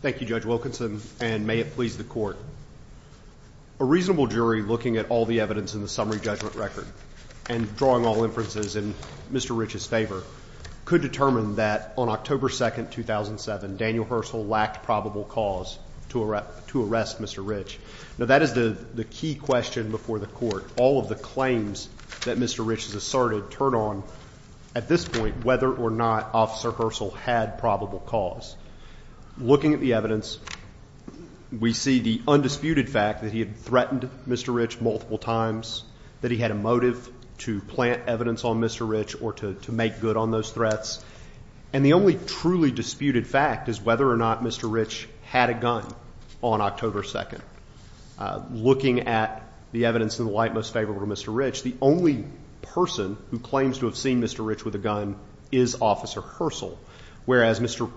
Thank you, Judge Wilkinson, and may it please the Court. A reasonable jury, looking at all the evidence in the summary judgment record and drawing all inferences in Mr. Rich's favor, could determine that on October 2, 2007, Daniel Hersl lacked probable cause to arrest Mr. Rich. Now, that is the key question before the Court. All of the claims that Mr. Rich has asserted turn on, at this point, whether or not Officer Hersl had probable cause. Looking at the evidence, we see the undisputed fact that he had threatened Mr. Rich multiple times, that he had a motive to plant evidence on Mr. Rich or to make good on those threats. And the only truly disputed fact is whether or not Mr. Rich had a gun on October 2. Looking at the evidence in the light most favorable to Mr. Rich, the only person who claims to have seen Mr. Rich with a gun is Officer Hersl, whereas Mr.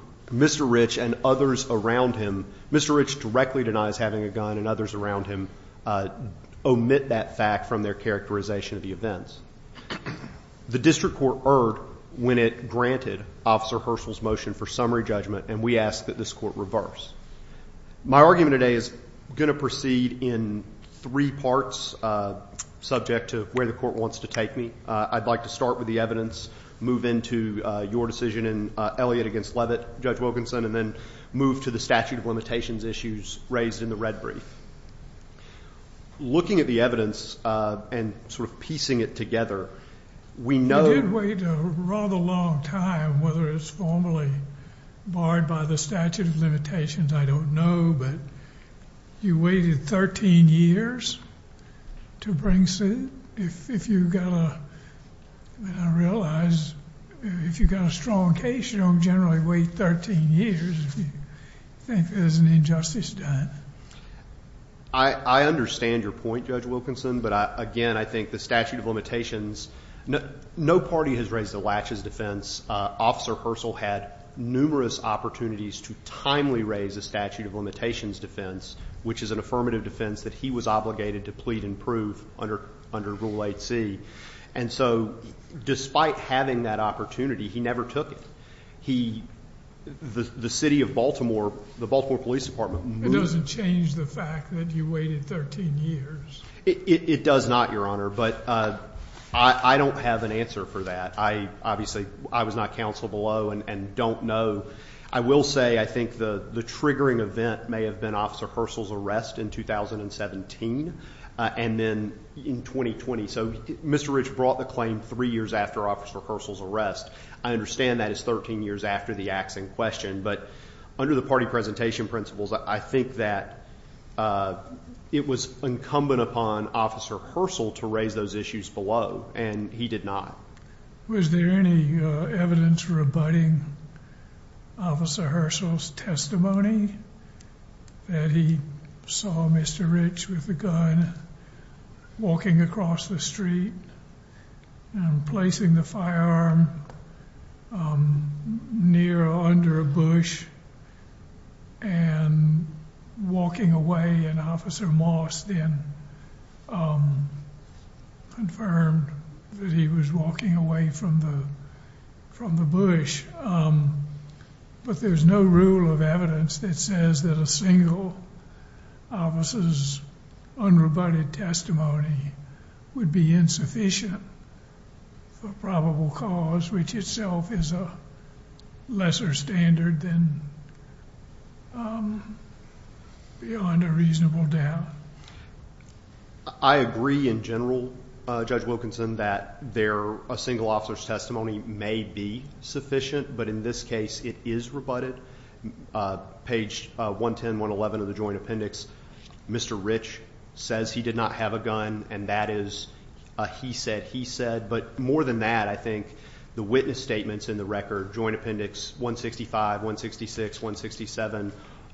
Rich and others around him, Mr. Rich directly denies having a gun and others around him omit that fact from their characterization of the events. The district court erred when it granted Officer Hersl's motion for summary judgment, and we ask that this Court reverse. My argument today is going to proceed in three parts, subject to where the Court wants to take me. I'd like to start with the evidence, move into your decision in Elliott v. Levitt, Judge Wilkinson, and then move to the statute of limitations issues raised in the red brief. Looking at the evidence and sort of piecing it together, we know- You did wait a rather long time, whether it's formally barred by the statute of limitations, I don't know, but you waited 13 years to bring suit? If you've got a- I realize if you've got a strong case, you don't generally wait 13 years if you think there's an injustice done. I understand your point, Judge Wilkinson, but again, I think the statute of limitations- No party has raised a latch as defense. Officer Hersl had numerous opportunities to timely raise a statute of limitations defense, which is an affirmative defense that he was obligated to plead and prove under Rule 8c. And so, despite having that opportunity, he never took it. The city of Baltimore, the Baltimore Police Department- It doesn't change the fact that you waited 13 years? It does not, Your Honor, but I don't have an answer for that. Obviously, I was not counsel below and don't know. I will say, I think the triggering event may have been Officer Hersl's arrest in 2017 and then in 2020. So, Mr. Rich brought the claim three years after Officer Hersl's arrest. I understand that is 13 years after the axing question, but under the party presentation principles, I think that it was incumbent upon Officer Hersl to raise those issues below, and he did not. Was there any evidence rebutting Officer Hersl's testimony that he saw Mr. Rich with a gun walking across the street and placing the firearm near or under a bush and walking away? And Officer Moss then confirmed that he was walking away from the bush. But there's no rule of evidence that says that a single officer's unrebutted testimony would be insufficient for probable cause, which itself is a lesser standard than beyond a reasonable doubt. I agree in general, Judge Wilkinson, that a single officer's testimony may be sufficient, but in this case, it is rebutted. Page 110, 111 of the joint appendix, Mr. Rich says he did not have a gun, and that is a he said, he said. But more than that, I think the witness statements in the record, Joint Appendix 165, 166, 167,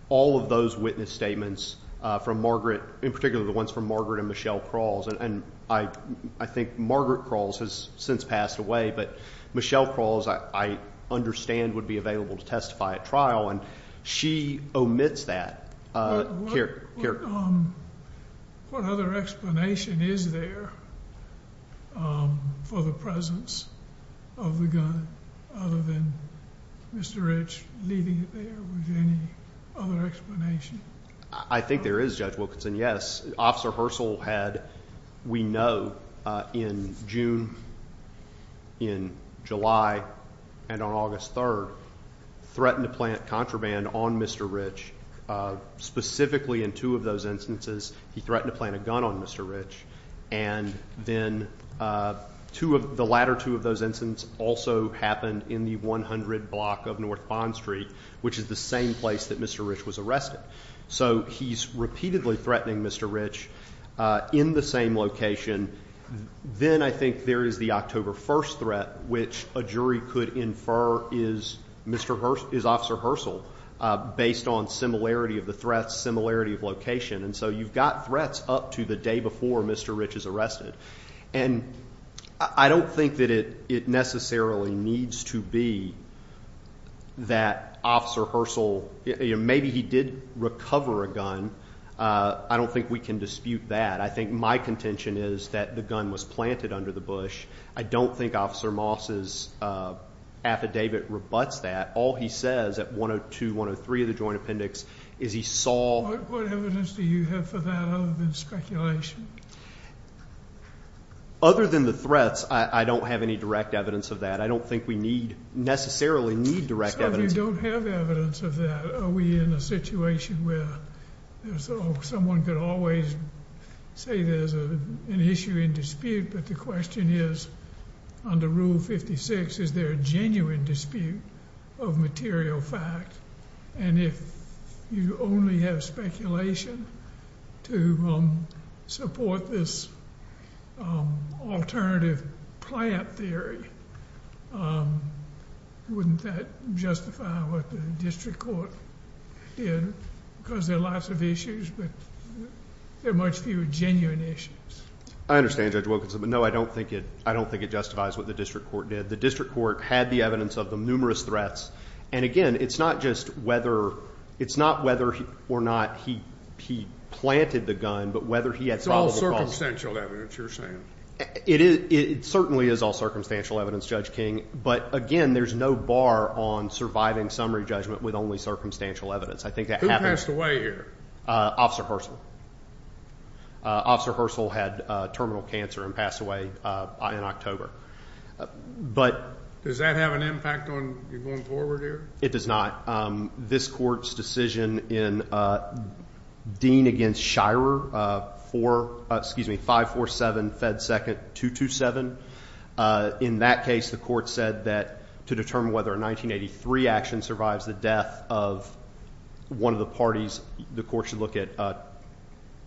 all of those witness statements from Margaret, in particular the ones from Margaret and Michelle Crawls. And I think Margaret Crawls has since passed away, but Michelle Crawls, I understand, would be available to testify at trial, and she omits that. What other explanation is there for the presence of the gun, other than Mr. Rich leaving it there, was there any other explanation? I think there is, Judge Wilkinson, yes. Officer Herschel had, we know, in June, in July, and on August 3rd, threatened to plant contraband on Mr. Rich, specifically in two of those instances, he threatened to plant a gun on Mr. Rich, and then the latter two of those instances also happened in the 100 block of North Bond Street, which is the same place that Mr. Rich was arrested, so he's repeatedly threatening Mr. Rich in the same location, then I think there is the October 1st which a jury could infer is Officer Herschel, based on similarity of the threats, similarity of location, and so you've got threats up to the day before Mr. Rich is arrested. And I don't think that it necessarily needs to be that Officer Herschel, maybe he did recover a gun, I don't think we can dispute that. I think my contention is that the gun was planted under the bush. I don't think Officer Moss' affidavit rebutts that. All he says at 102, 103 of the Joint Appendix, is he saw- What evidence do you have for that other than speculation? Other than the threats, I don't have any direct evidence of that. I don't think we need, necessarily need direct evidence. So if you don't have evidence of that, are we in a situation where someone could always say there's an issue in dispute, but the question is, under Rule 56, is there a genuine dispute of material fact? And if you only have speculation to support this alternative plant theory, wouldn't that justify what the district court did? Because there are lots of issues, but there are much fewer genuine issues. I understand Judge Wilkinson, but no, I don't think it justifies what the district court did. The district court had the evidence of the numerous threats. And again, it's not just whether, it's not whether or not he planted the gun, but whether he had probable cause- It's all circumstantial evidence, you're saying? It certainly is all circumstantial evidence, Judge King. But again, there's no bar on surviving summary judgment with only circumstantial evidence. I think that happens- Who passed away here? Officer Herschel. Officer Herschel had terminal cancer and passed away in October. But- Does that have an impact on you going forward here? It does not. This court's decision in Dean against Shirer, 547 Fed 2nd 227. In that case, the court said that to determine whether a 1983 action survives the death of one of the parties, the court should look at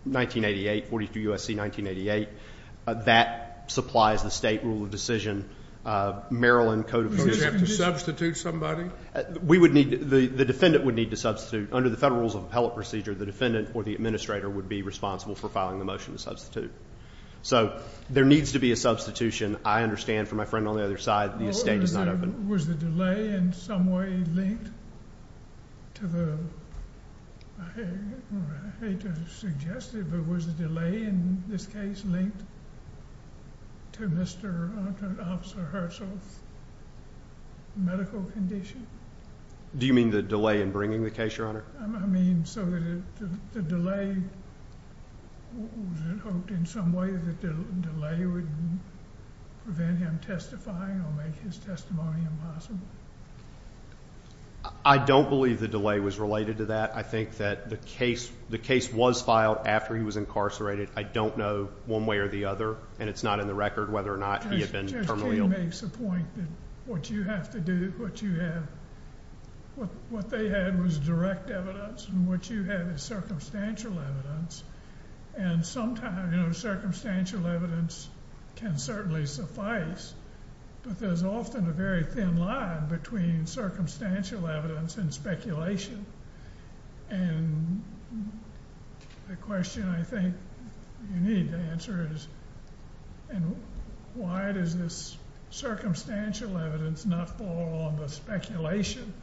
1988, 42 U.S.C. 1988. That supplies the state rule of decision, Maryland Code of Procedures- Does he have to substitute somebody? We would need, the defendant would need to substitute. Under the Federal Rules of Appellate Procedure, the defendant or the administrator would be responsible for filing the motion to substitute. So, there needs to be a substitution. I understand from my friend on the other side, the estate is not open. Was the delay in some way linked to the, I hate to suggest it, but was the delay in this case linked to Mr. Officer Herschel's medical condition? Do you mean the delay in bringing the case, Your Honor? I mean, so the delay, was it hoped in some way that the delay would prevent him testifying or make his testimony impossible? I don't believe the delay was related to that. I think that the case was filed after he was incarcerated. I don't know one way or the other, and it's not in the record whether or not he had been terminally ill. Judge King makes a point that what you have to do, what you have, what they had was direct evidence, and what you have is circumstantial evidence. And sometimes, circumstantial evidence can certainly suffice, but there's often a very thin line between circumstantial evidence and speculation. And the question I think you need to answer is, and why does this circumstantial evidence not fall on the speculation?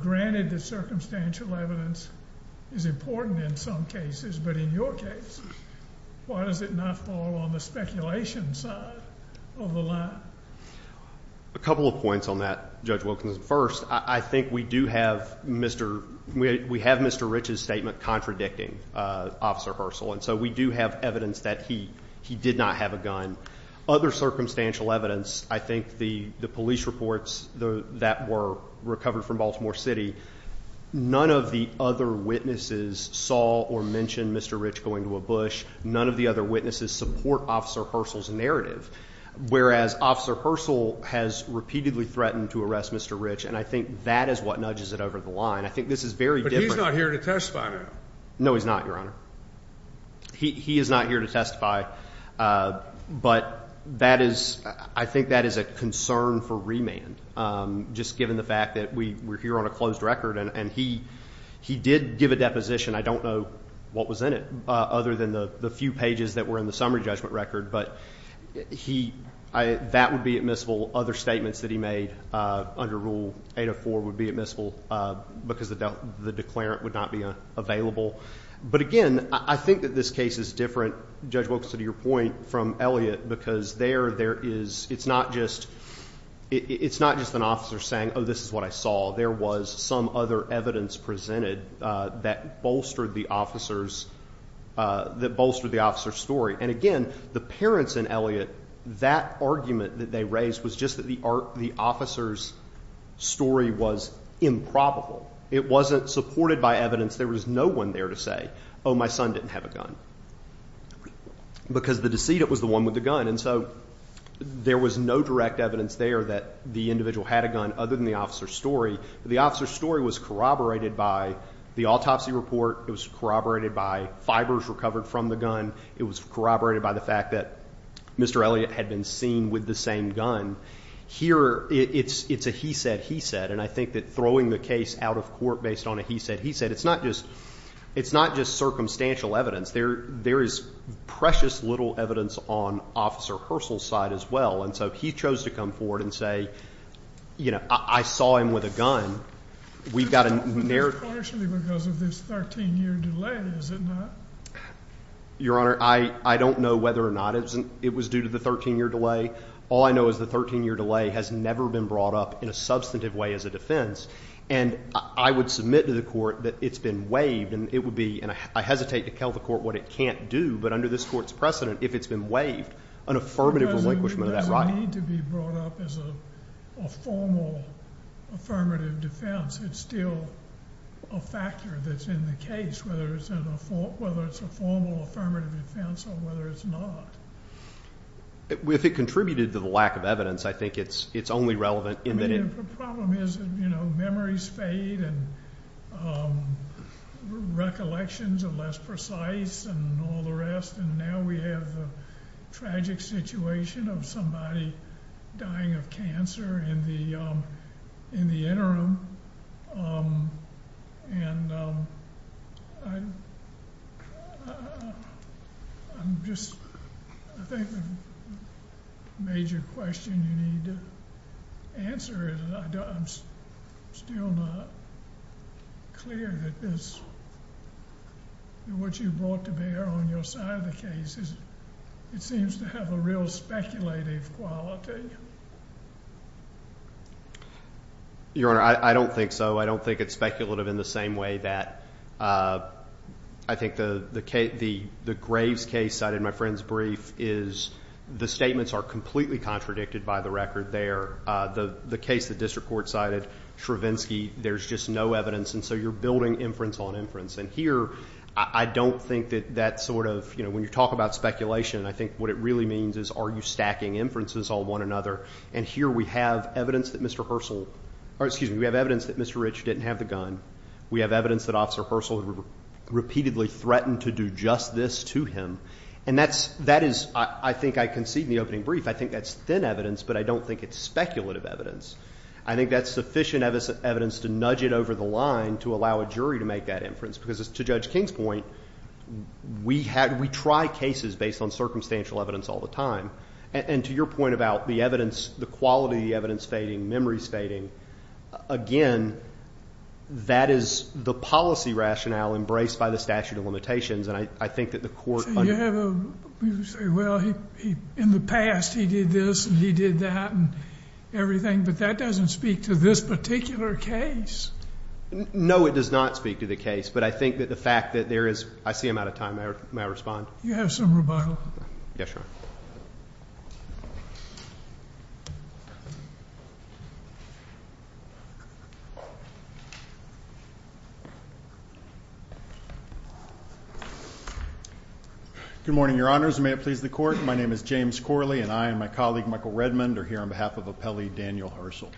Granted, the circumstantial evidence is important in some cases, but in your case, why does it not fall on the speculation side of the line? A couple of points on that, Judge Wilkinson. First, I think we do have Mr. We have Mr. Rich's statement contradicting Officer Herschel. And so we do have evidence that he did not have a gun. Other circumstantial evidence, I think the police reports that were recovered from Baltimore City, none of the other witnesses saw or mentioned Mr. Rich going to a bush. None of the other witnesses support Officer Herschel's narrative. Whereas, Officer Herschel has repeatedly threatened to arrest Mr. Rich, and I think that is what nudges it over the line. I think this is very different. But he's not here to testify now. No, he's not, Your Honor. He is not here to testify, but I think that is a concern for remand, just given the fact that we're here on a closed record. And he did give a deposition. I don't know what was in it other than the few pages that were in the summary judgment record, but that would be admissible. Other statements that he made under Rule 804 would be admissible because the declarant would not be available. But again, I think that this case is different, Judge Wilkinson, to your point, from Elliott, because there is, it's not just an officer saying, this is what I saw. There was some other evidence presented that bolstered the officer's story. And again, the parents in Elliott, that argument that they raised was just that the officer's story was improbable. It wasn't supported by evidence. There was no one there to say, my son didn't have a gun. Because the decedent was the one with the gun. And so, there was no direct evidence there that the individual had a gun, other than the officer's story. The officer's story was corroborated by the autopsy report. It was corroborated by fibers recovered from the gun. It was corroborated by the fact that Mr. Elliott had been seen with the same gun. Here, it's a he said, he said. And I think that throwing the case out of court based on a he said, he said, it's not just circumstantial evidence. There is precious little evidence on Officer Hursle's side as well. And so, he chose to come forward and say, I saw him with a gun. We've got a narrative- But that's partially because of this 13 year delay, is it not? Your Honor, I don't know whether or not it was due to the 13 year delay. All I know is the 13 year delay has never been brought up in a substantive way as a defense. And I would submit to the court that it's been waived. And it would be, and I hesitate to tell the court what it can't do, but under this court's precedent, if it's been waived, an affirmative relinquishment of that right. It doesn't need to be brought up as a formal affirmative defense. It's still a factor that's in the case, whether it's a formal affirmative defense or whether it's not. If it contributed to the lack of evidence, I think it's only relevant in that it- The problem is that memories fade and recollections are less precise and all the rest. And now we have the tragic situation of somebody dying of cancer in the interim. And I'm just, I think the major question you need to answer is, I'm still not clear that this, what you brought to bear on your side of the case is, it seems to have a real speculative quality. Your Honor, I don't think so. I don't think it's speculative in the same way that I think the graves case cited in my friend's brief is, the statements are completely contradicted by the record there. The case the district court cited, Shravinsky, there's just no evidence. And so you're building inference on inference. And here, I don't think that that sort of, when you talk about speculation, I think what it really means is, are you stacking inferences on one another? And here we have evidence that Mr. Herschel, or excuse me, we have evidence that Mr. Rich didn't have the gun. We have evidence that Officer Herschel repeatedly threatened to do just this to him, and that is, I think I concede in the opening brief, I think that's thin evidence, but I don't think it's speculative evidence. I think that's sufficient evidence to nudge it over the line to allow a jury to make that inference, because as to Judge King's point, we try cases based on circumstantial evidence all the time. And to your point about the evidence, the quality of the evidence fading, memories fading, again, that is the policy rationale embraced by the statute of limitations, and I think that the court- So you have a, you say, well, in the past, he did this, and he did that, and everything. But that doesn't speak to this particular case. No, it does not speak to the case. But I think that the fact that there is, I see I'm out of time, may I respond? You have some rebuttal. Yes, Your Honor. Good morning, Your Honors, and may it please the Court. My name is James Corley, and I and my colleague, Michael Redmond, are here on behalf of Appellee Daniel Herschel.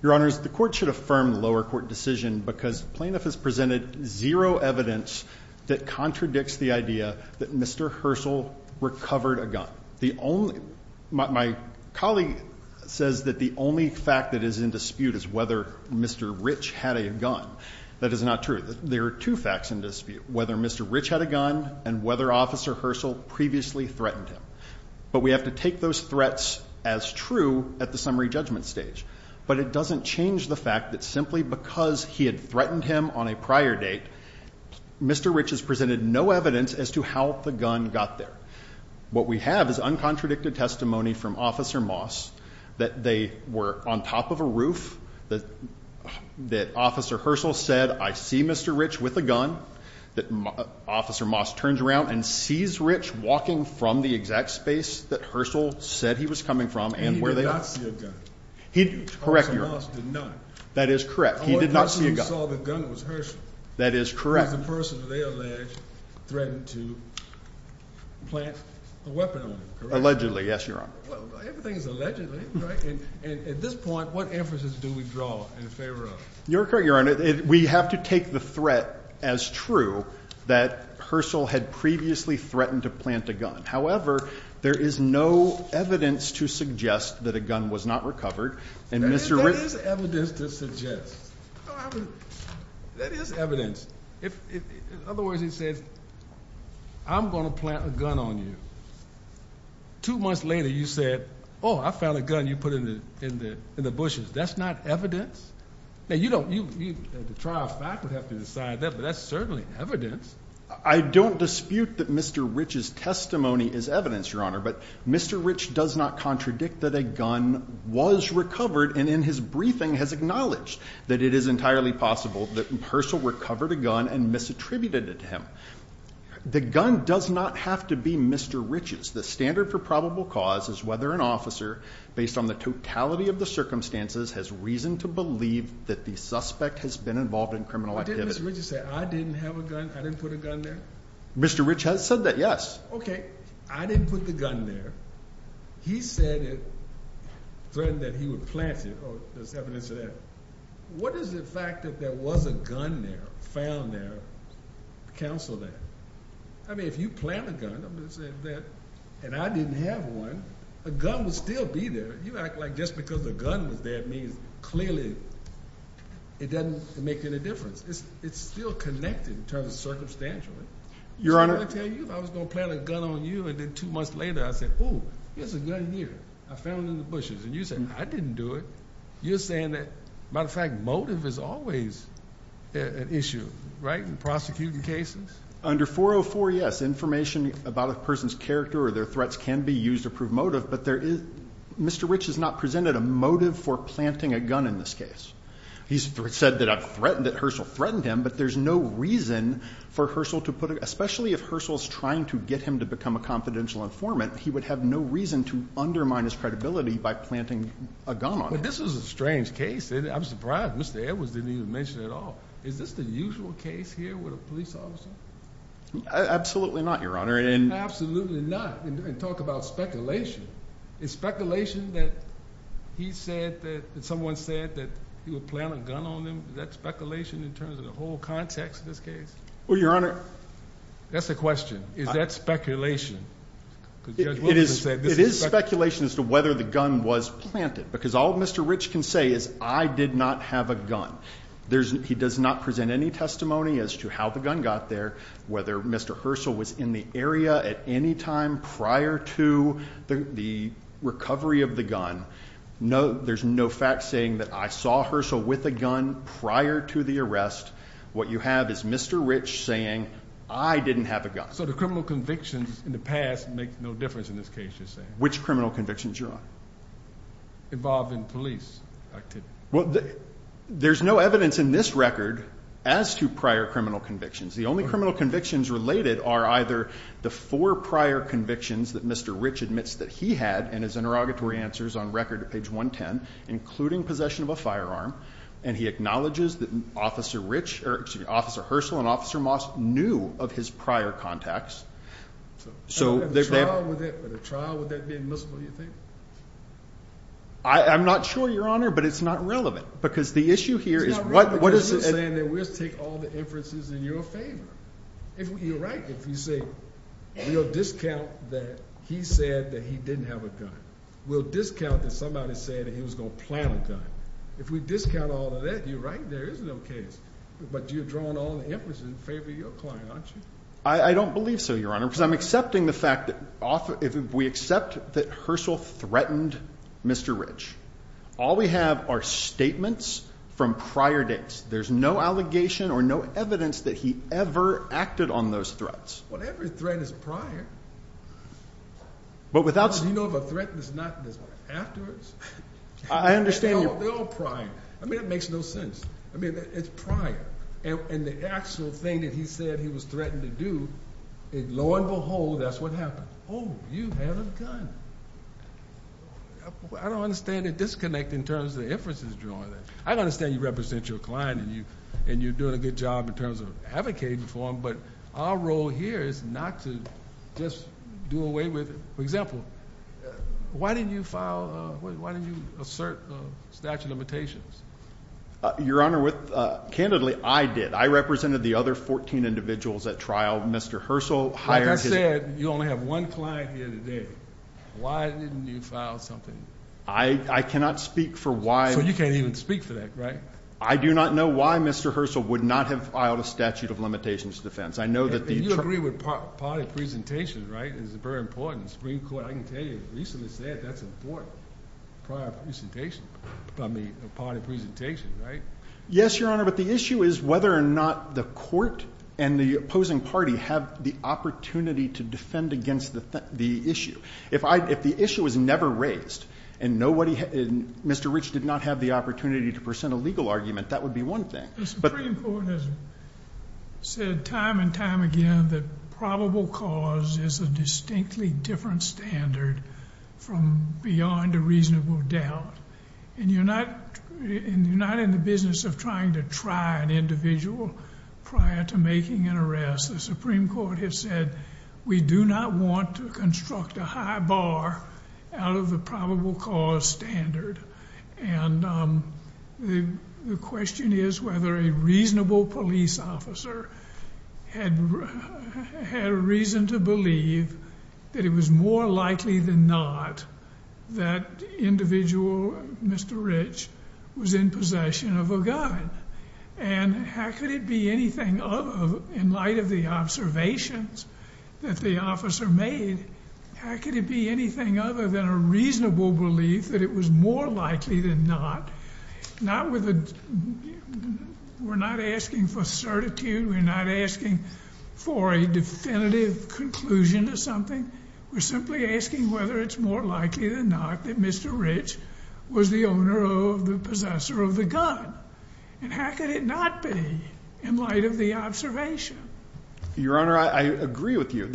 Your Honors, the court should affirm the lower court decision because plaintiff has presented zero evidence that contradicts the idea that Mr. Herschel recovered a gun. The only, my colleague says that the only fact that is in dispute is whether Mr. Rich had a gun, that is not true. There are two facts in dispute, whether Mr. Rich had a gun, and whether Officer Herschel previously threatened him. But we have to take those threats as true at the summary judgment stage. But it doesn't change the fact that simply because he had threatened him on a prior date, Mr. Rich has presented no evidence as to how the gun got there. What we have is uncontradicted testimony from Officer Moss, that they were on top of a roof, that Officer Herschel said, I see Mr. Rich with a gun, that Officer Moss turns around and sees Rich walking from the exact space that Herschel said he was coming from, and where they- He did not see a gun. He, correct, Your Honor. Officer Moss did not. That is correct. He did not see a gun. All that Herschel saw with a gun was Herschel. That is correct. He's the person that they allege threatened to plant a weapon on him, correct? Allegedly, yes, Your Honor. Everything is allegedly, right? And at this point, what emphasis do we draw in favor of? You're correct, Your Honor. We have to take the threat as true that Herschel had previously threatened to plant a gun. However, there is no evidence to suggest that a gun was not recovered. And Mr. Rich- There is evidence to suggest, there is evidence. In other words, he said, I'm going to plant a gun on you. Two months later, you said, oh, I found a gun you put in the bushes. That's not evidence? Now, you don't- The trial faculty have to decide that, but that's certainly evidence. I don't dispute that Mr. Rich's testimony is evidence, Your Honor. But Mr. Rich does not contradict that a gun was recovered. And in his briefing, has acknowledged that it is entirely possible that Herschel recovered a gun and misattributed it to him. The gun does not have to be Mr. Rich's. The standard for probable cause is whether an officer, based on the totality of the circumstances, has reason to believe that the suspect has been involved in criminal activity. Didn't Mr. Rich say, I didn't have a gun, I didn't put a gun there? Mr. Rich has said that, yes. Okay, I didn't put the gun there. He said it, threatened that he would plant it, or there's evidence of that. What is the fact that there was a gun there, found there, counseled there? I mean, if you plant a gun, and I didn't have one, a gun would still be there. You act like just because a gun was there means, clearly, it doesn't make any difference. It's still connected in terms of circumstantial. Your Honor- I was going to tell you if I was going to plant a gun on you and then two months later I said, ooh, here's a gun here, I found it in the bushes. And you said, I didn't do it. You're saying that, matter of fact, motive is always an issue, right, in prosecuting cases? Under 404, yes, information about a person's character or their threats can be used to prove motive. But there is, Mr. Rich has not presented a motive for planting a gun in this case. He's said that I've threatened it, Herschel threatened him, but there's no reason for Herschel to put it, especially if Herschel's trying to get him to become a confidential informant. He would have no reason to undermine his credibility by planting a gun on him. But this was a strange case, and I'm surprised Mr. Edwards didn't even mention it at all. Is this the usual case here with a police officer? Absolutely not, Your Honor, and- Absolutely not, and talk about speculation. Is speculation that he said that, that someone said that he would plant a gun on him, is that speculation in terms of the whole context of this case? Well, Your Honor- That's the question. Is that speculation? Because Judge Wilson said this is speculation. It is speculation as to whether the gun was planted. Because all Mr. Rich can say is, I did not have a gun. He does not present any testimony as to how the gun got there, whether Mr. Herschel was in the area at any time prior to the recovery of the gun. No, there's no fact saying that I saw Herschel with a gun prior to the arrest. What you have is Mr. Rich saying, I didn't have a gun. So the criminal convictions in the past make no difference in this case, you're saying? Which criminal convictions, Your Honor? Involving police activity. Well, there's no evidence in this record as to prior criminal convictions. The only criminal convictions related are either the four prior convictions that Mr. Rich admits that he had in his interrogatory answers on record at page 110, including possession of a firearm. And he acknowledges that Officer Herschel and Officer Moss knew of his prior contacts, so they- But a trial, would that be admissible, you think? I'm not sure, Your Honor, but it's not relevant. Because the issue here is what- It's not relevant because you're saying that we'll take all the inferences in your favor. You're right if you say we'll discount that he said that he didn't have a gun. We'll discount that somebody said that he was going to plant a gun. If we discount all of that, you're right, there is no case. But you're drawing all the inferences in favor of your client, aren't you? I don't believe so, Your Honor, because I'm accepting the fact that if we accept that Herschel threatened Mr. Rich, all we have are statements from prior dates. There's no allegation or no evidence that he ever acted on those threats. Well, every threat is prior. But without- Do you know if a threat is not afterwards? I understand your- They're all prior. I mean, it makes no sense. I mean, it's prior. And the actual thing that he said he was threatened to do, lo and behold, that's what happened. Oh, you have a gun. I don't understand the disconnect in terms of the inferences drawn there. I understand you represent your client, and you're doing a good job in terms of advocating for him, but our role here is not to just do away with it. For example, why didn't you assert statute of limitations? Your Honor, candidly, I did. I represented the other 14 individuals at trial. Mr. Herschel hired his- Like I said, you only have one client here today. Why didn't you file something? I cannot speak for why- So you can't even speak for that, right? I do not know why Mr. Herschel would not have filed a statute of limitations to defense. I know that the- You agree with party presentation, right? It's very important. The Supreme Court, I can tell you, recently said that's important, prior presentation. I mean, party presentation, right? Yes, Your Honor, but the issue is whether or not the court and the opposing party have the opportunity to defend against the issue. If the issue was never raised and nobody, Mr. Rich did not have the opportunity to present a legal argument, that would be one thing. The Supreme Court has said time and time again that probable cause is a distinctly different standard from beyond a reasonable doubt. And you're not in the business of trying to try an individual prior to making an The Supreme Court has said we do not want to construct a high bar out of the probable cause standard. And the question is whether a reasonable police officer had reason to believe that it was more likely than not that individual, Mr. Rich, was in possession of a gun. And how could it be anything other, in light of the observations that the officer made, how could it be anything other than a reasonable belief that it was more likely than not, not with a- we're not asking for certitude, we're not asking for a definitive conclusion to something, we're simply asking whether it's more likely than not that Mr. Rich was the owner or the possessor of the gun. And how could it not be in light of the observation? Your Honor, I agree with you.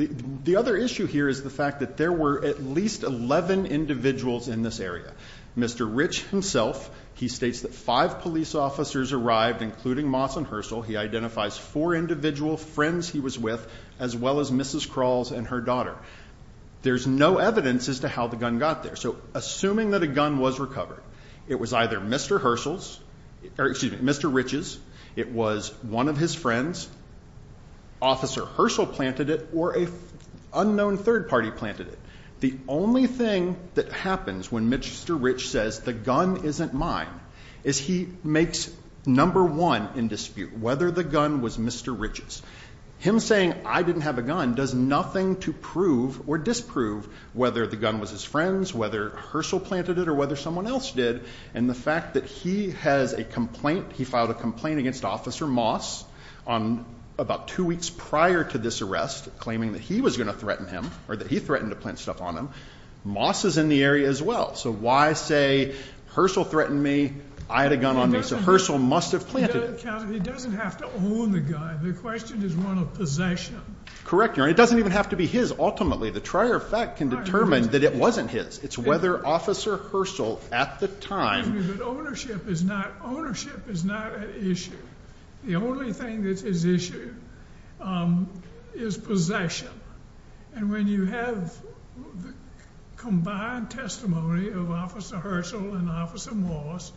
The other issue here is the fact that there were at least 11 individuals in this area. Mr. Rich himself, he states that five police officers arrived, including Mawson Herschel, he identifies four individual friends he was with, as well as Mrs. Crawls and her daughter. There's no evidence as to how the gun got there. So assuming that a gun was recovered, it was either Mr. Herschel's, or excuse me, Mr. Rich's, it was one of his friends, Officer Herschel planted it, or a unknown third party planted it. The only thing that happens when Mr. Rich says the gun isn't mine is he makes number one in dispute, whether the gun was Mr. Rich's. Him saying, I didn't have a gun, does nothing to prove or disprove whether the gun was his friend's, whether Herschel planted it, or whether someone else did. And the fact that he has a complaint, he filed a complaint against Officer Moss on about two weeks prior to this arrest, claiming that he was going to threaten him, or that he threatened to plant stuff on him. Moss is in the area as well. So why say, Herschel threatened me, I had a gun on me. So Herschel must have planted it. He doesn't have to own the gun. The question is one of possession. Correct, Your Honor. It doesn't even have to be his. Ultimately, the trier of fact can determine that it wasn't his. It's whether Officer Herschel, at the time. But ownership is not an issue. The only thing that's his issue is possession. And when you have the combined testimony of Officer Herschel and Officer Moss,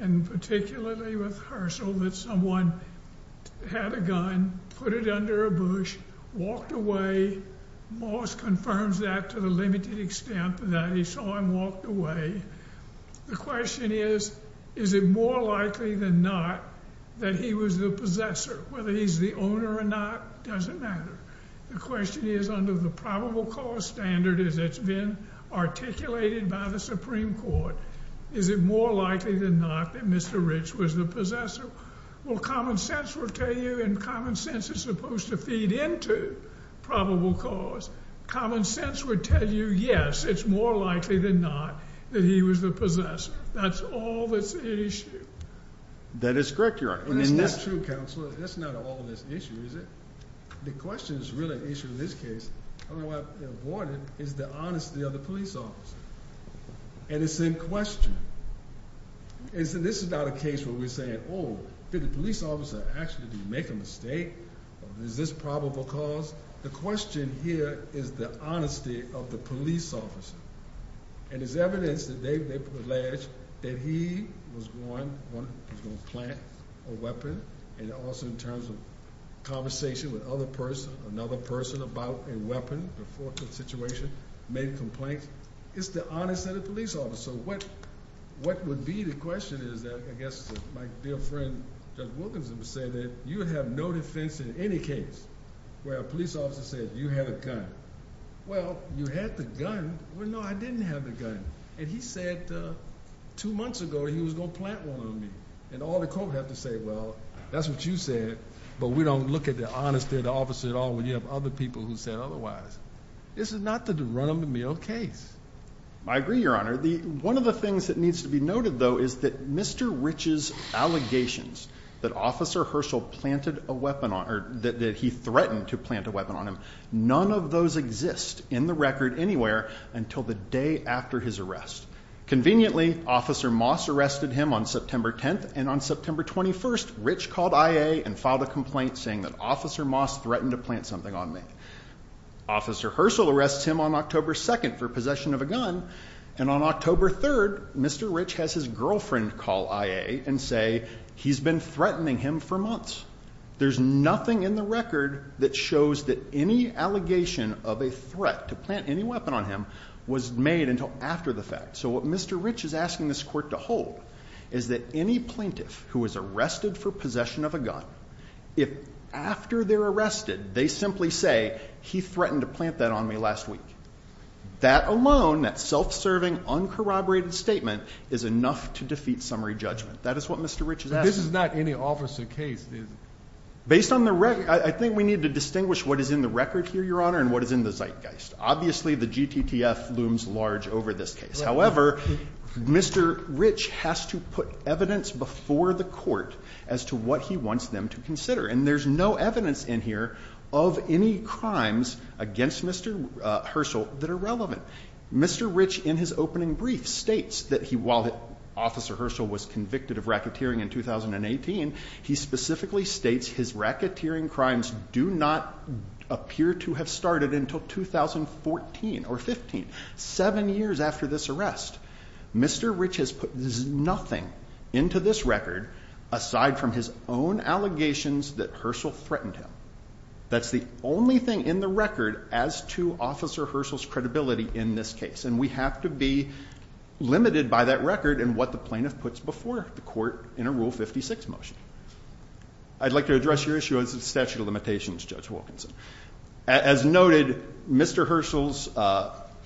and particularly with Herschel, that someone had a gun, put it under a bush, walked away, Moss confirms that to the limited extent that he saw him walk away. The question is, is it more likely than not that he was the possessor? Whether he's the owner or not, doesn't matter. The question is, under the probable cause standard, as it's been articulated by the Supreme Court, is it more likely than not that Mr. Rich was the possessor? Well, common sense will tell you, and common sense is supposed to feed into probable cause. Common sense would tell you, yes, it's more likely than not that he was the possessor. That's all that's the issue. That is correct, Your Honor. Well, that's not true, Counselor. That's not all this issue, is it? The question is really an issue in this case. I don't know why I'm avoiding it. It's the honesty of the police officer. And it's in question. And so this is not a case where we're saying, oh, did the police officer actually make a mistake? Or is this probable cause? The question here is the honesty of the police officer. And it's evidence that they've alleged that he was going to plant a weapon. And also in terms of conversation with another person about a weapon before the situation, made a complaint. It's the honesty of the police officer. What would be the question is that, I guess my dear friend, Judge Wilkinson, would say that you would have no defense in any case where a police officer said you had a gun. Well, you had the gun. Well, no, I didn't have the gun. And he said two months ago he was going to plant one on me. And all the court have to say, well, that's what you said. But we don't look at the honesty of the officer at all when you have other people who said otherwise. This is not the run-of-the-mill case. I agree, Your Honor. One of the things that needs to be noted, though, is that Mr. Rich's allegations that Officer Herschel planted a weapon on, or that he threatened to plant a weapon on him, none of those exist in the record anywhere until the day after his arrest. Conveniently, Officer Moss arrested him on September 10th. And on September 21st, Rich called IA and filed a complaint saying that Officer Moss threatened to plant something on me. Officer Herschel arrests him on October 2nd for possession of a gun. And on October 3rd, Mr. Rich has his girlfriend call IA and say he's been threatening him for months. There's nothing in the record that shows that any allegation of a threat to plant any weapon on him was made until after the fact. So what Mr. Rich is asking this court to hold is that any plaintiff who was arrested for possession of a gun, if after they're arrested, they simply say, he threatened to plant that on me last week. That alone, that self-serving, uncorroborated statement is enough to defeat summary judgment. That is what Mr. Rich is asking. This is not any officer case, is it? Based on the record, I think we need to distinguish what is in the record here, Your Honor, and what is in the zeitgeist. Obviously, the GTTF looms large over this case. However, Mr. Rich has to put evidence before the court as to what he wants them to consider. And there's no evidence in here of any crimes against Mr. Herschel that are relevant. Mr. Rich, in his opening brief, states that while Officer Herschel was convicted of racketeering in 2018, he specifically states his racketeering crimes do not appear to have started until 2014 or 15. Seven years after this arrest, Mr. Rich has put nothing into this record aside from his own allegations that Herschel threatened him. That's the only thing in the record as to Officer Herschel's credibility in this case. And we have to be limited by that record in what the plaintiff puts before the court in a Rule 56 motion. I'd like to address your issue as a statute of limitations, Judge Wilkinson. As noted, Mr. Herschel's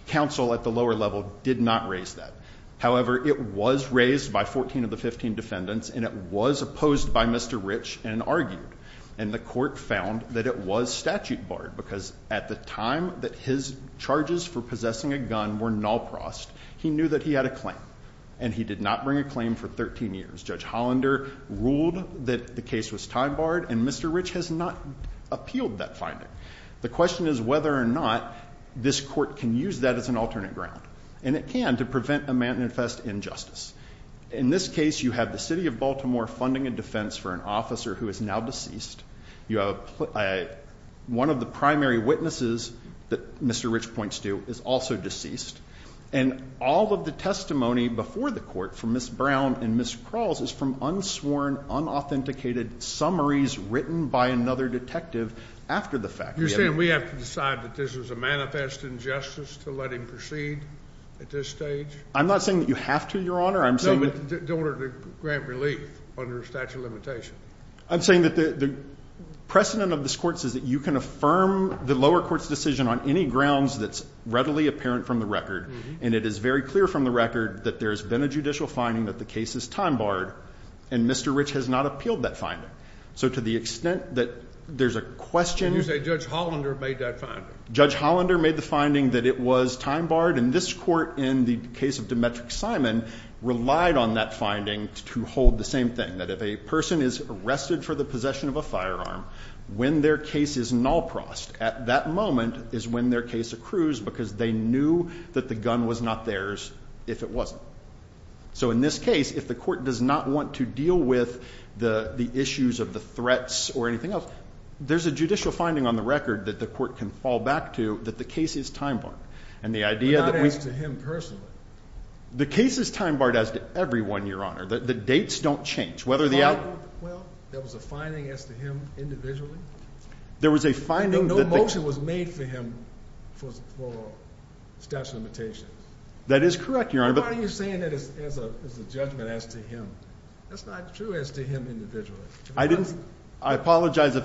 counsel at the lower level did not raise that. However, it was raised by 14 of the 15 defendants, and it was opposed by Mr. Rich and argued. And the court found that it was statute barred, because at the time that his charges for possessing a gun were nullprossed, he knew that he had a claim, and he did not bring a claim for 13 years. Judge Hollander ruled that the case was time barred, and Mr. Rich has not appealed that finding. The question is whether or not this court can use that as an alternate ground. And it can to prevent a manifest injustice. In this case, you have the city of Baltimore funding a defense for an officer who is now deceased. You have one of the primary witnesses that Mr. Rich points to is also deceased. And all of the testimony before the court from Ms. Brown and Ms. Crawls is from unsworn, unauthenticated summaries written by another detective after the fact. You're saying we have to decide that this is a manifest injustice to let him proceed at this stage? I'm not saying that you have to, Your Honor. I'm saying that- No, in order to grant relief under a statute of limitation. I'm saying that the precedent of this court is that you can affirm the lower court's decision on any grounds that's readily apparent from the record. And it is very clear from the record that there's been a judicial finding that the case is time barred. And Mr. Rich has not appealed that finding. So to the extent that there's a question- And you say Judge Hollander made that finding? Judge Hollander made the finding that it was time barred. And this court, in the case of Demetric Simon, relied on that finding to hold the same thing. And that if a person is arrested for the possession of a firearm, when their case is null-prossed, at that moment is when their case accrues because they knew that the gun was not theirs if it wasn't. So in this case, if the court does not want to deal with the issues of the threats or anything else, there's a judicial finding on the record that the court can fall back to that the case is time barred. And the idea that we- But not as to him personally. The case is time barred as to everyone, Your Honor. The dates don't change. Whether the- Well, there was a finding as to him individually. There was a finding that- No motion was made for him for statute of limitations. That is correct, Your Honor. Why are you saying that as a judgment as to him? That's not true as to him individually. I didn't- I apologize if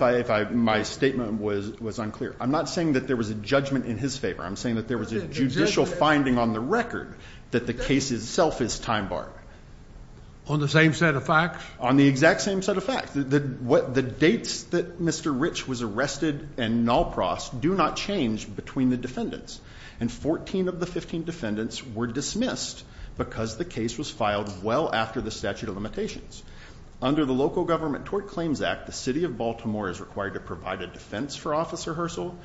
my statement was unclear. I'm not saying that there was a judgment in his favor. I'm saying that there was a judicial finding on the record that the case itself is time barred. On the same set of facts? On the exact same set of facts. The dates that Mr. Rich was arrested and Nalpras do not change between the defendants. And 14 of the 15 defendants were dismissed because the case was filed well after the statute of limitations. Under the Local Government Tort Claims Act, the city of Baltimore is required to provide a defense for Officer Herschel.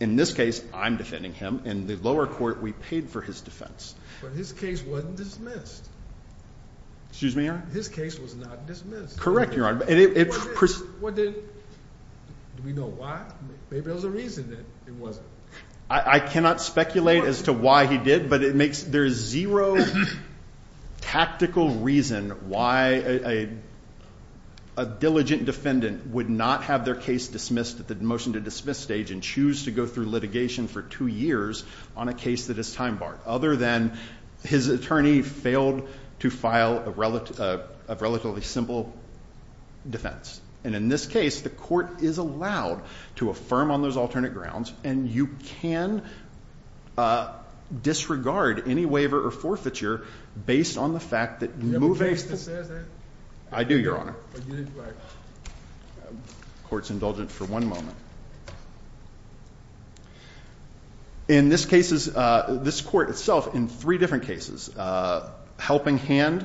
In this case, I'm defending him. In the lower court, we paid for his defense. But his case wasn't dismissed. Excuse me, Your Honor? His case was not dismissed. Correct, Your Honor. What did- what did- do we know why? Maybe there was a reason that it wasn't. I cannot speculate as to why he did. But it makes- there is zero tactical reason why a diligent defendant would not have their case dismissed at the motion to dismiss stage and choose to go through litigation for two years on a case that is time barred. Other than his attorney failed to file a relatively simple defense. And in this case, the court is allowed to affirm on those alternate grounds. And you can disregard any waiver or forfeiture based on the fact that- Do you have a case that says that? I do, Your Honor. Court's indulgent for one moment. In this case, this court itself, in three different cases, Helping Hand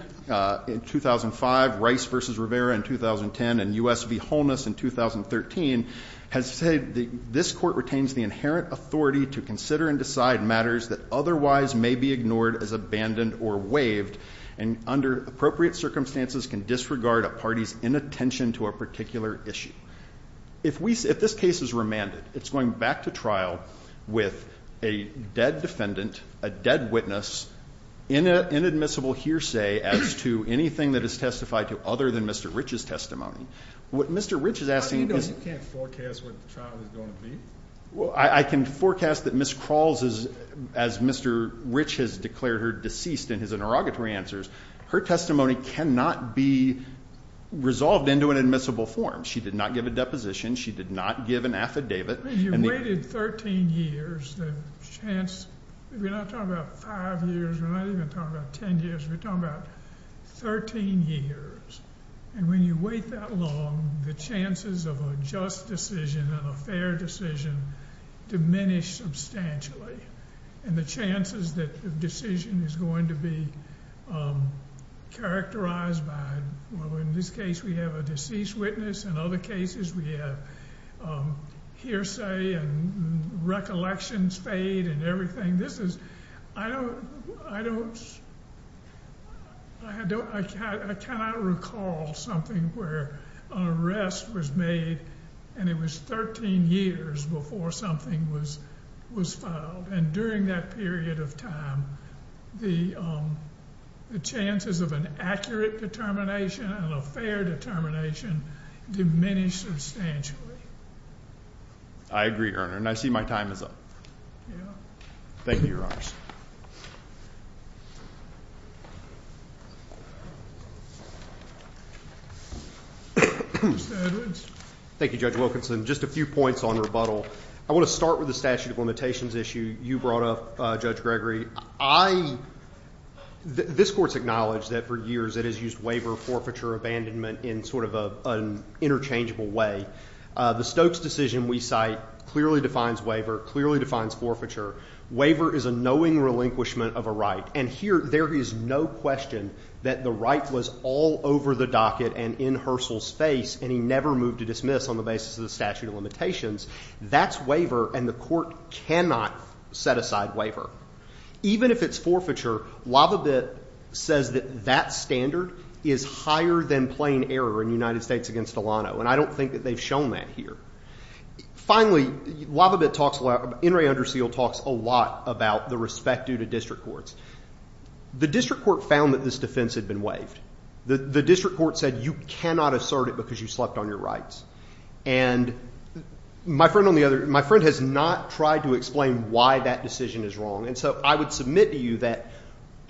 in 2005, Rice v. Rivera in 2010, and US v. Holness in 2013, has said that this court retains the inherent authority to consider and decide matters that otherwise may be ignored as abandoned or waived and under appropriate circumstances can disregard a party's inattention to a particular issue. If we- if this case is remanded, it's going back to trial with a dead defendant, a dead witness, inadmissible hearsay as to anything that is testified to other than Mr. Rich's testimony. What Mr. Rich is asking- I know you can't forecast what the trial is going to be. Well, I can forecast that Ms. Crawls, as Mr. Rich has declared her deceased in his interrogatory answers, her testimony cannot be resolved into an admissible form. She did not give a deposition. She did not give an affidavit. When you waited 13 years, the chance- if you're not talking about 5 years, we're not even talking about 10 years. We're talking about 13 years. And when you wait that long, the chances of a just decision and a fair decision diminish substantially. And the chances that the decision is going to be characterized by- well, in this case, we have a deceased witness. In other cases, we have hearsay and recollections fade and everything. This is- I don't- I don't- I cannot recall something where an arrest was made and it was 13 years before something was filed. And during that period of time, the chances of an accurate determination and a fair determination diminished substantially. MR. CLEMENT I agree, Your Honor. And I see my time is up. MR. CLEMENT Thank you, Your Honors. THE COURT Mr. Edwards. EDWARDS Thank you, Judge Wilkinson. Just a few points on rebuttal. I want to start with the statute of limitations issue you brought up, Judge Gregory. I- this Court's acknowledged that for years it has used waiver, forfeiture, abandonment in sort of an interchangeable way. The Stokes decision we cite clearly defines waiver, clearly defines forfeiture. Waiver is a knowing relinquishment of a right. And here, there is no question that the right was all over the docket and in Herschel's face, and he never moved to dismiss on the basis of the statute of limitations. That's waiver, and the Court cannot set aside waiver. Even if it's forfeiture, Lavabit says that that standard is higher than plain error in United States v. Delano, and I don't think that they've shown that here. Finally, Lavabit talks a lot- Enri Underseal talks a lot about the respect due to district courts. The district court found that this defense had been waived. The district court said you cannot assert it because you slept on your rights. And my friend on the other- my friend has not tried to explain why that decision is wrong, and so I would submit to you that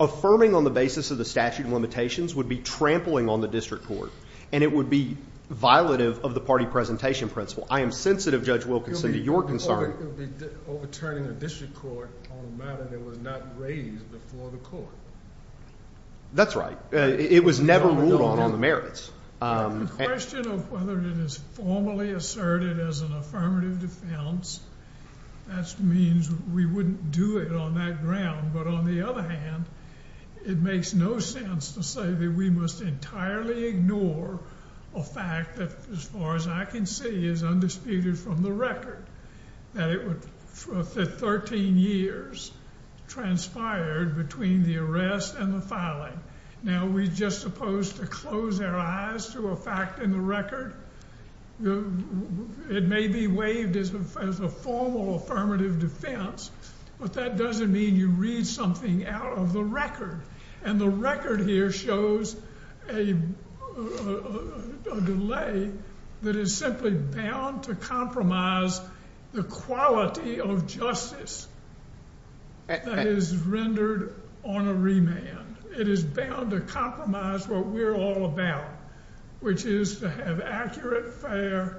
affirming on the basis of the statute of limitations would be trampling on the district court, and it would be violative of the party presentation principle. I am sensitive, Judge Wilkinson, to your concern- It would be overturning the district court on a matter that was not raised before the court. That's right. It was never ruled on on the merits. The question of whether it is formally asserted as an affirmative defense, that means we wouldn't do it on that ground. But on the other hand, it makes no sense to say that we must entirely ignore a fact that, as far as I can see, is undisputed from the record. That it would, for 13 years, transpired between the arrest and the filing. Now, we're just supposed to close our eyes to a fact in the record. It may be waived as a formal affirmative defense, but that doesn't mean you read something out of the record. And the record here shows a delay that is simply bound to compromise the quality of justice that is rendered on a remand. It is bound to compromise what we're all about, which is to have accurate, fair,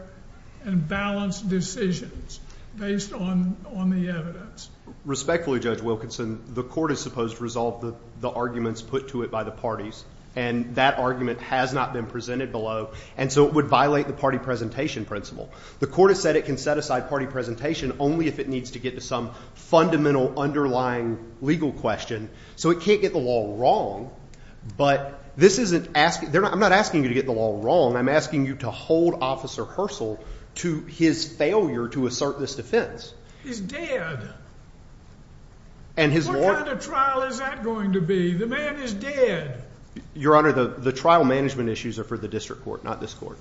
and balanced decisions based on the evidence. Respectfully, Judge Wilkinson, the court is supposed to resolve the arguments put to it by the parties, and that argument has not been presented below. And so it would violate the party presentation principle. The court has said it can set aside party presentation only if it needs to get to some fundamental underlying legal question. So it can't get the law wrong. But I'm not asking you to get the law wrong. I'm asking you to hold Officer Herschel to his failure to assert this defense. He's dead. And his lawyer- What kind of trial is that going to be? The man is dead. Your Honor, the trial management issues are for the district court, not this court.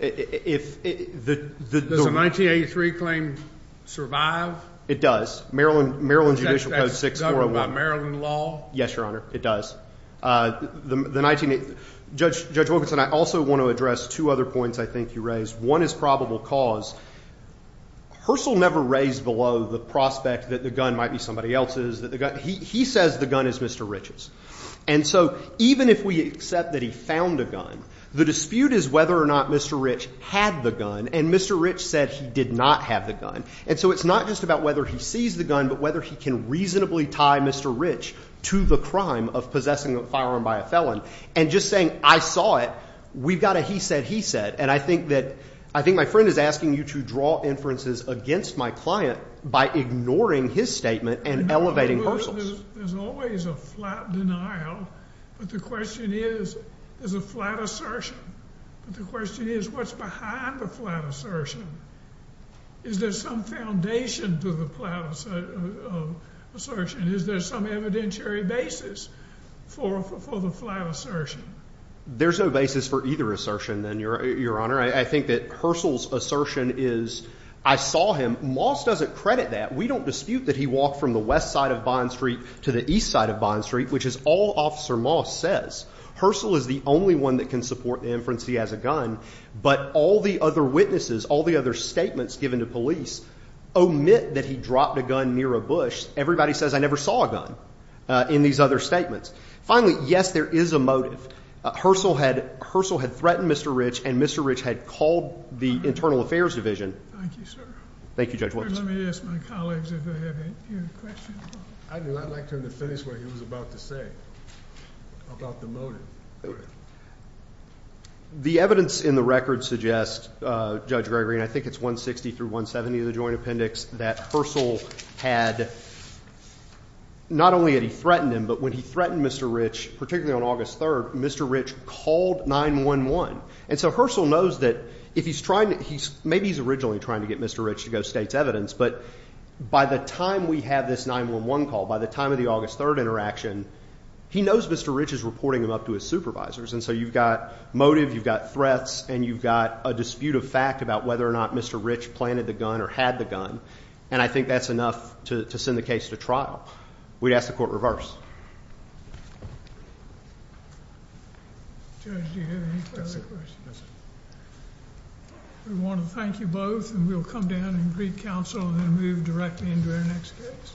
Does the 1983 claim survive? It does. Maryland Judicial Code 6401. Does that govern by Maryland law? Yes, Your Honor. It does. Judge Wilkinson, I also want to address two other points I think you raised. One is probable cause. Herschel never raised below the prospect that the gun might be somebody else's. He says the gun is Mr. Rich's. And so even if we accept that he found a gun, the dispute is whether or not Mr. Rich had the gun, and Mr. Rich said he did not have the gun. And so it's not just about whether he sees the gun, but whether he can reasonably tie Mr. Rich to the crime of possessing a firearm by a felon. And just saying, I saw it, we've got a he said, he said. And I think my friend is asking you to draw inferences against my client by ignoring his statement and elevating Herschel's. There's always a flat denial. But the question is, there's a flat assertion. But the question is, what's behind the flat assertion? Is there some foundation to the flat assertion? Is there some evidentiary basis for the flat assertion? There's no basis for either assertion, Your Honor. I think that Herschel's assertion is, I saw him. Moss doesn't credit that. We don't dispute that he walked from the west side of Bond Street to the east side of Bond Street, which is all Officer Moss says. Herschel is the only one that can support the inference he has a gun. But all the other witnesses, all the other statements given to police, omit that he dropped a gun near a bush. Everybody says, I never saw a gun in these other statements. Finally, yes, there is a motive. Herschel had threatened Mr. Rich. And Mr. Rich had called the Internal Affairs Division. Thank you, sir. Thank you, Judge Wilkinson. Let me ask my colleagues if they have any questions. I'd like him to finish what he was about to say about the motive. Go ahead. The evidence in the record suggests, Judge Gregory, and I think it's 160 through 170 of the joint appendix, that Herschel had, not only had he threatened him, but when he threatened Mr. Rich, particularly on August 3rd, Mr. Rich called 911. And so Herschel knows that if he's trying to, maybe he's originally trying to get Mr. Rich to go state's evidence. But by the time we have this 911 call, by the time of the August 3rd interaction, he knows Mr. Rich is reporting him up to his supervisors. And so you've got motive. You've got threats. And you've got a dispute of fact about whether or not Mr. Rich planted the gun or had the gun. And I think that's enough to send the case to trial. We'd ask the court reverse. Judge, do you have any further questions? We want to thank you both. And we'll come down and greet counsel and then move directly into our next case.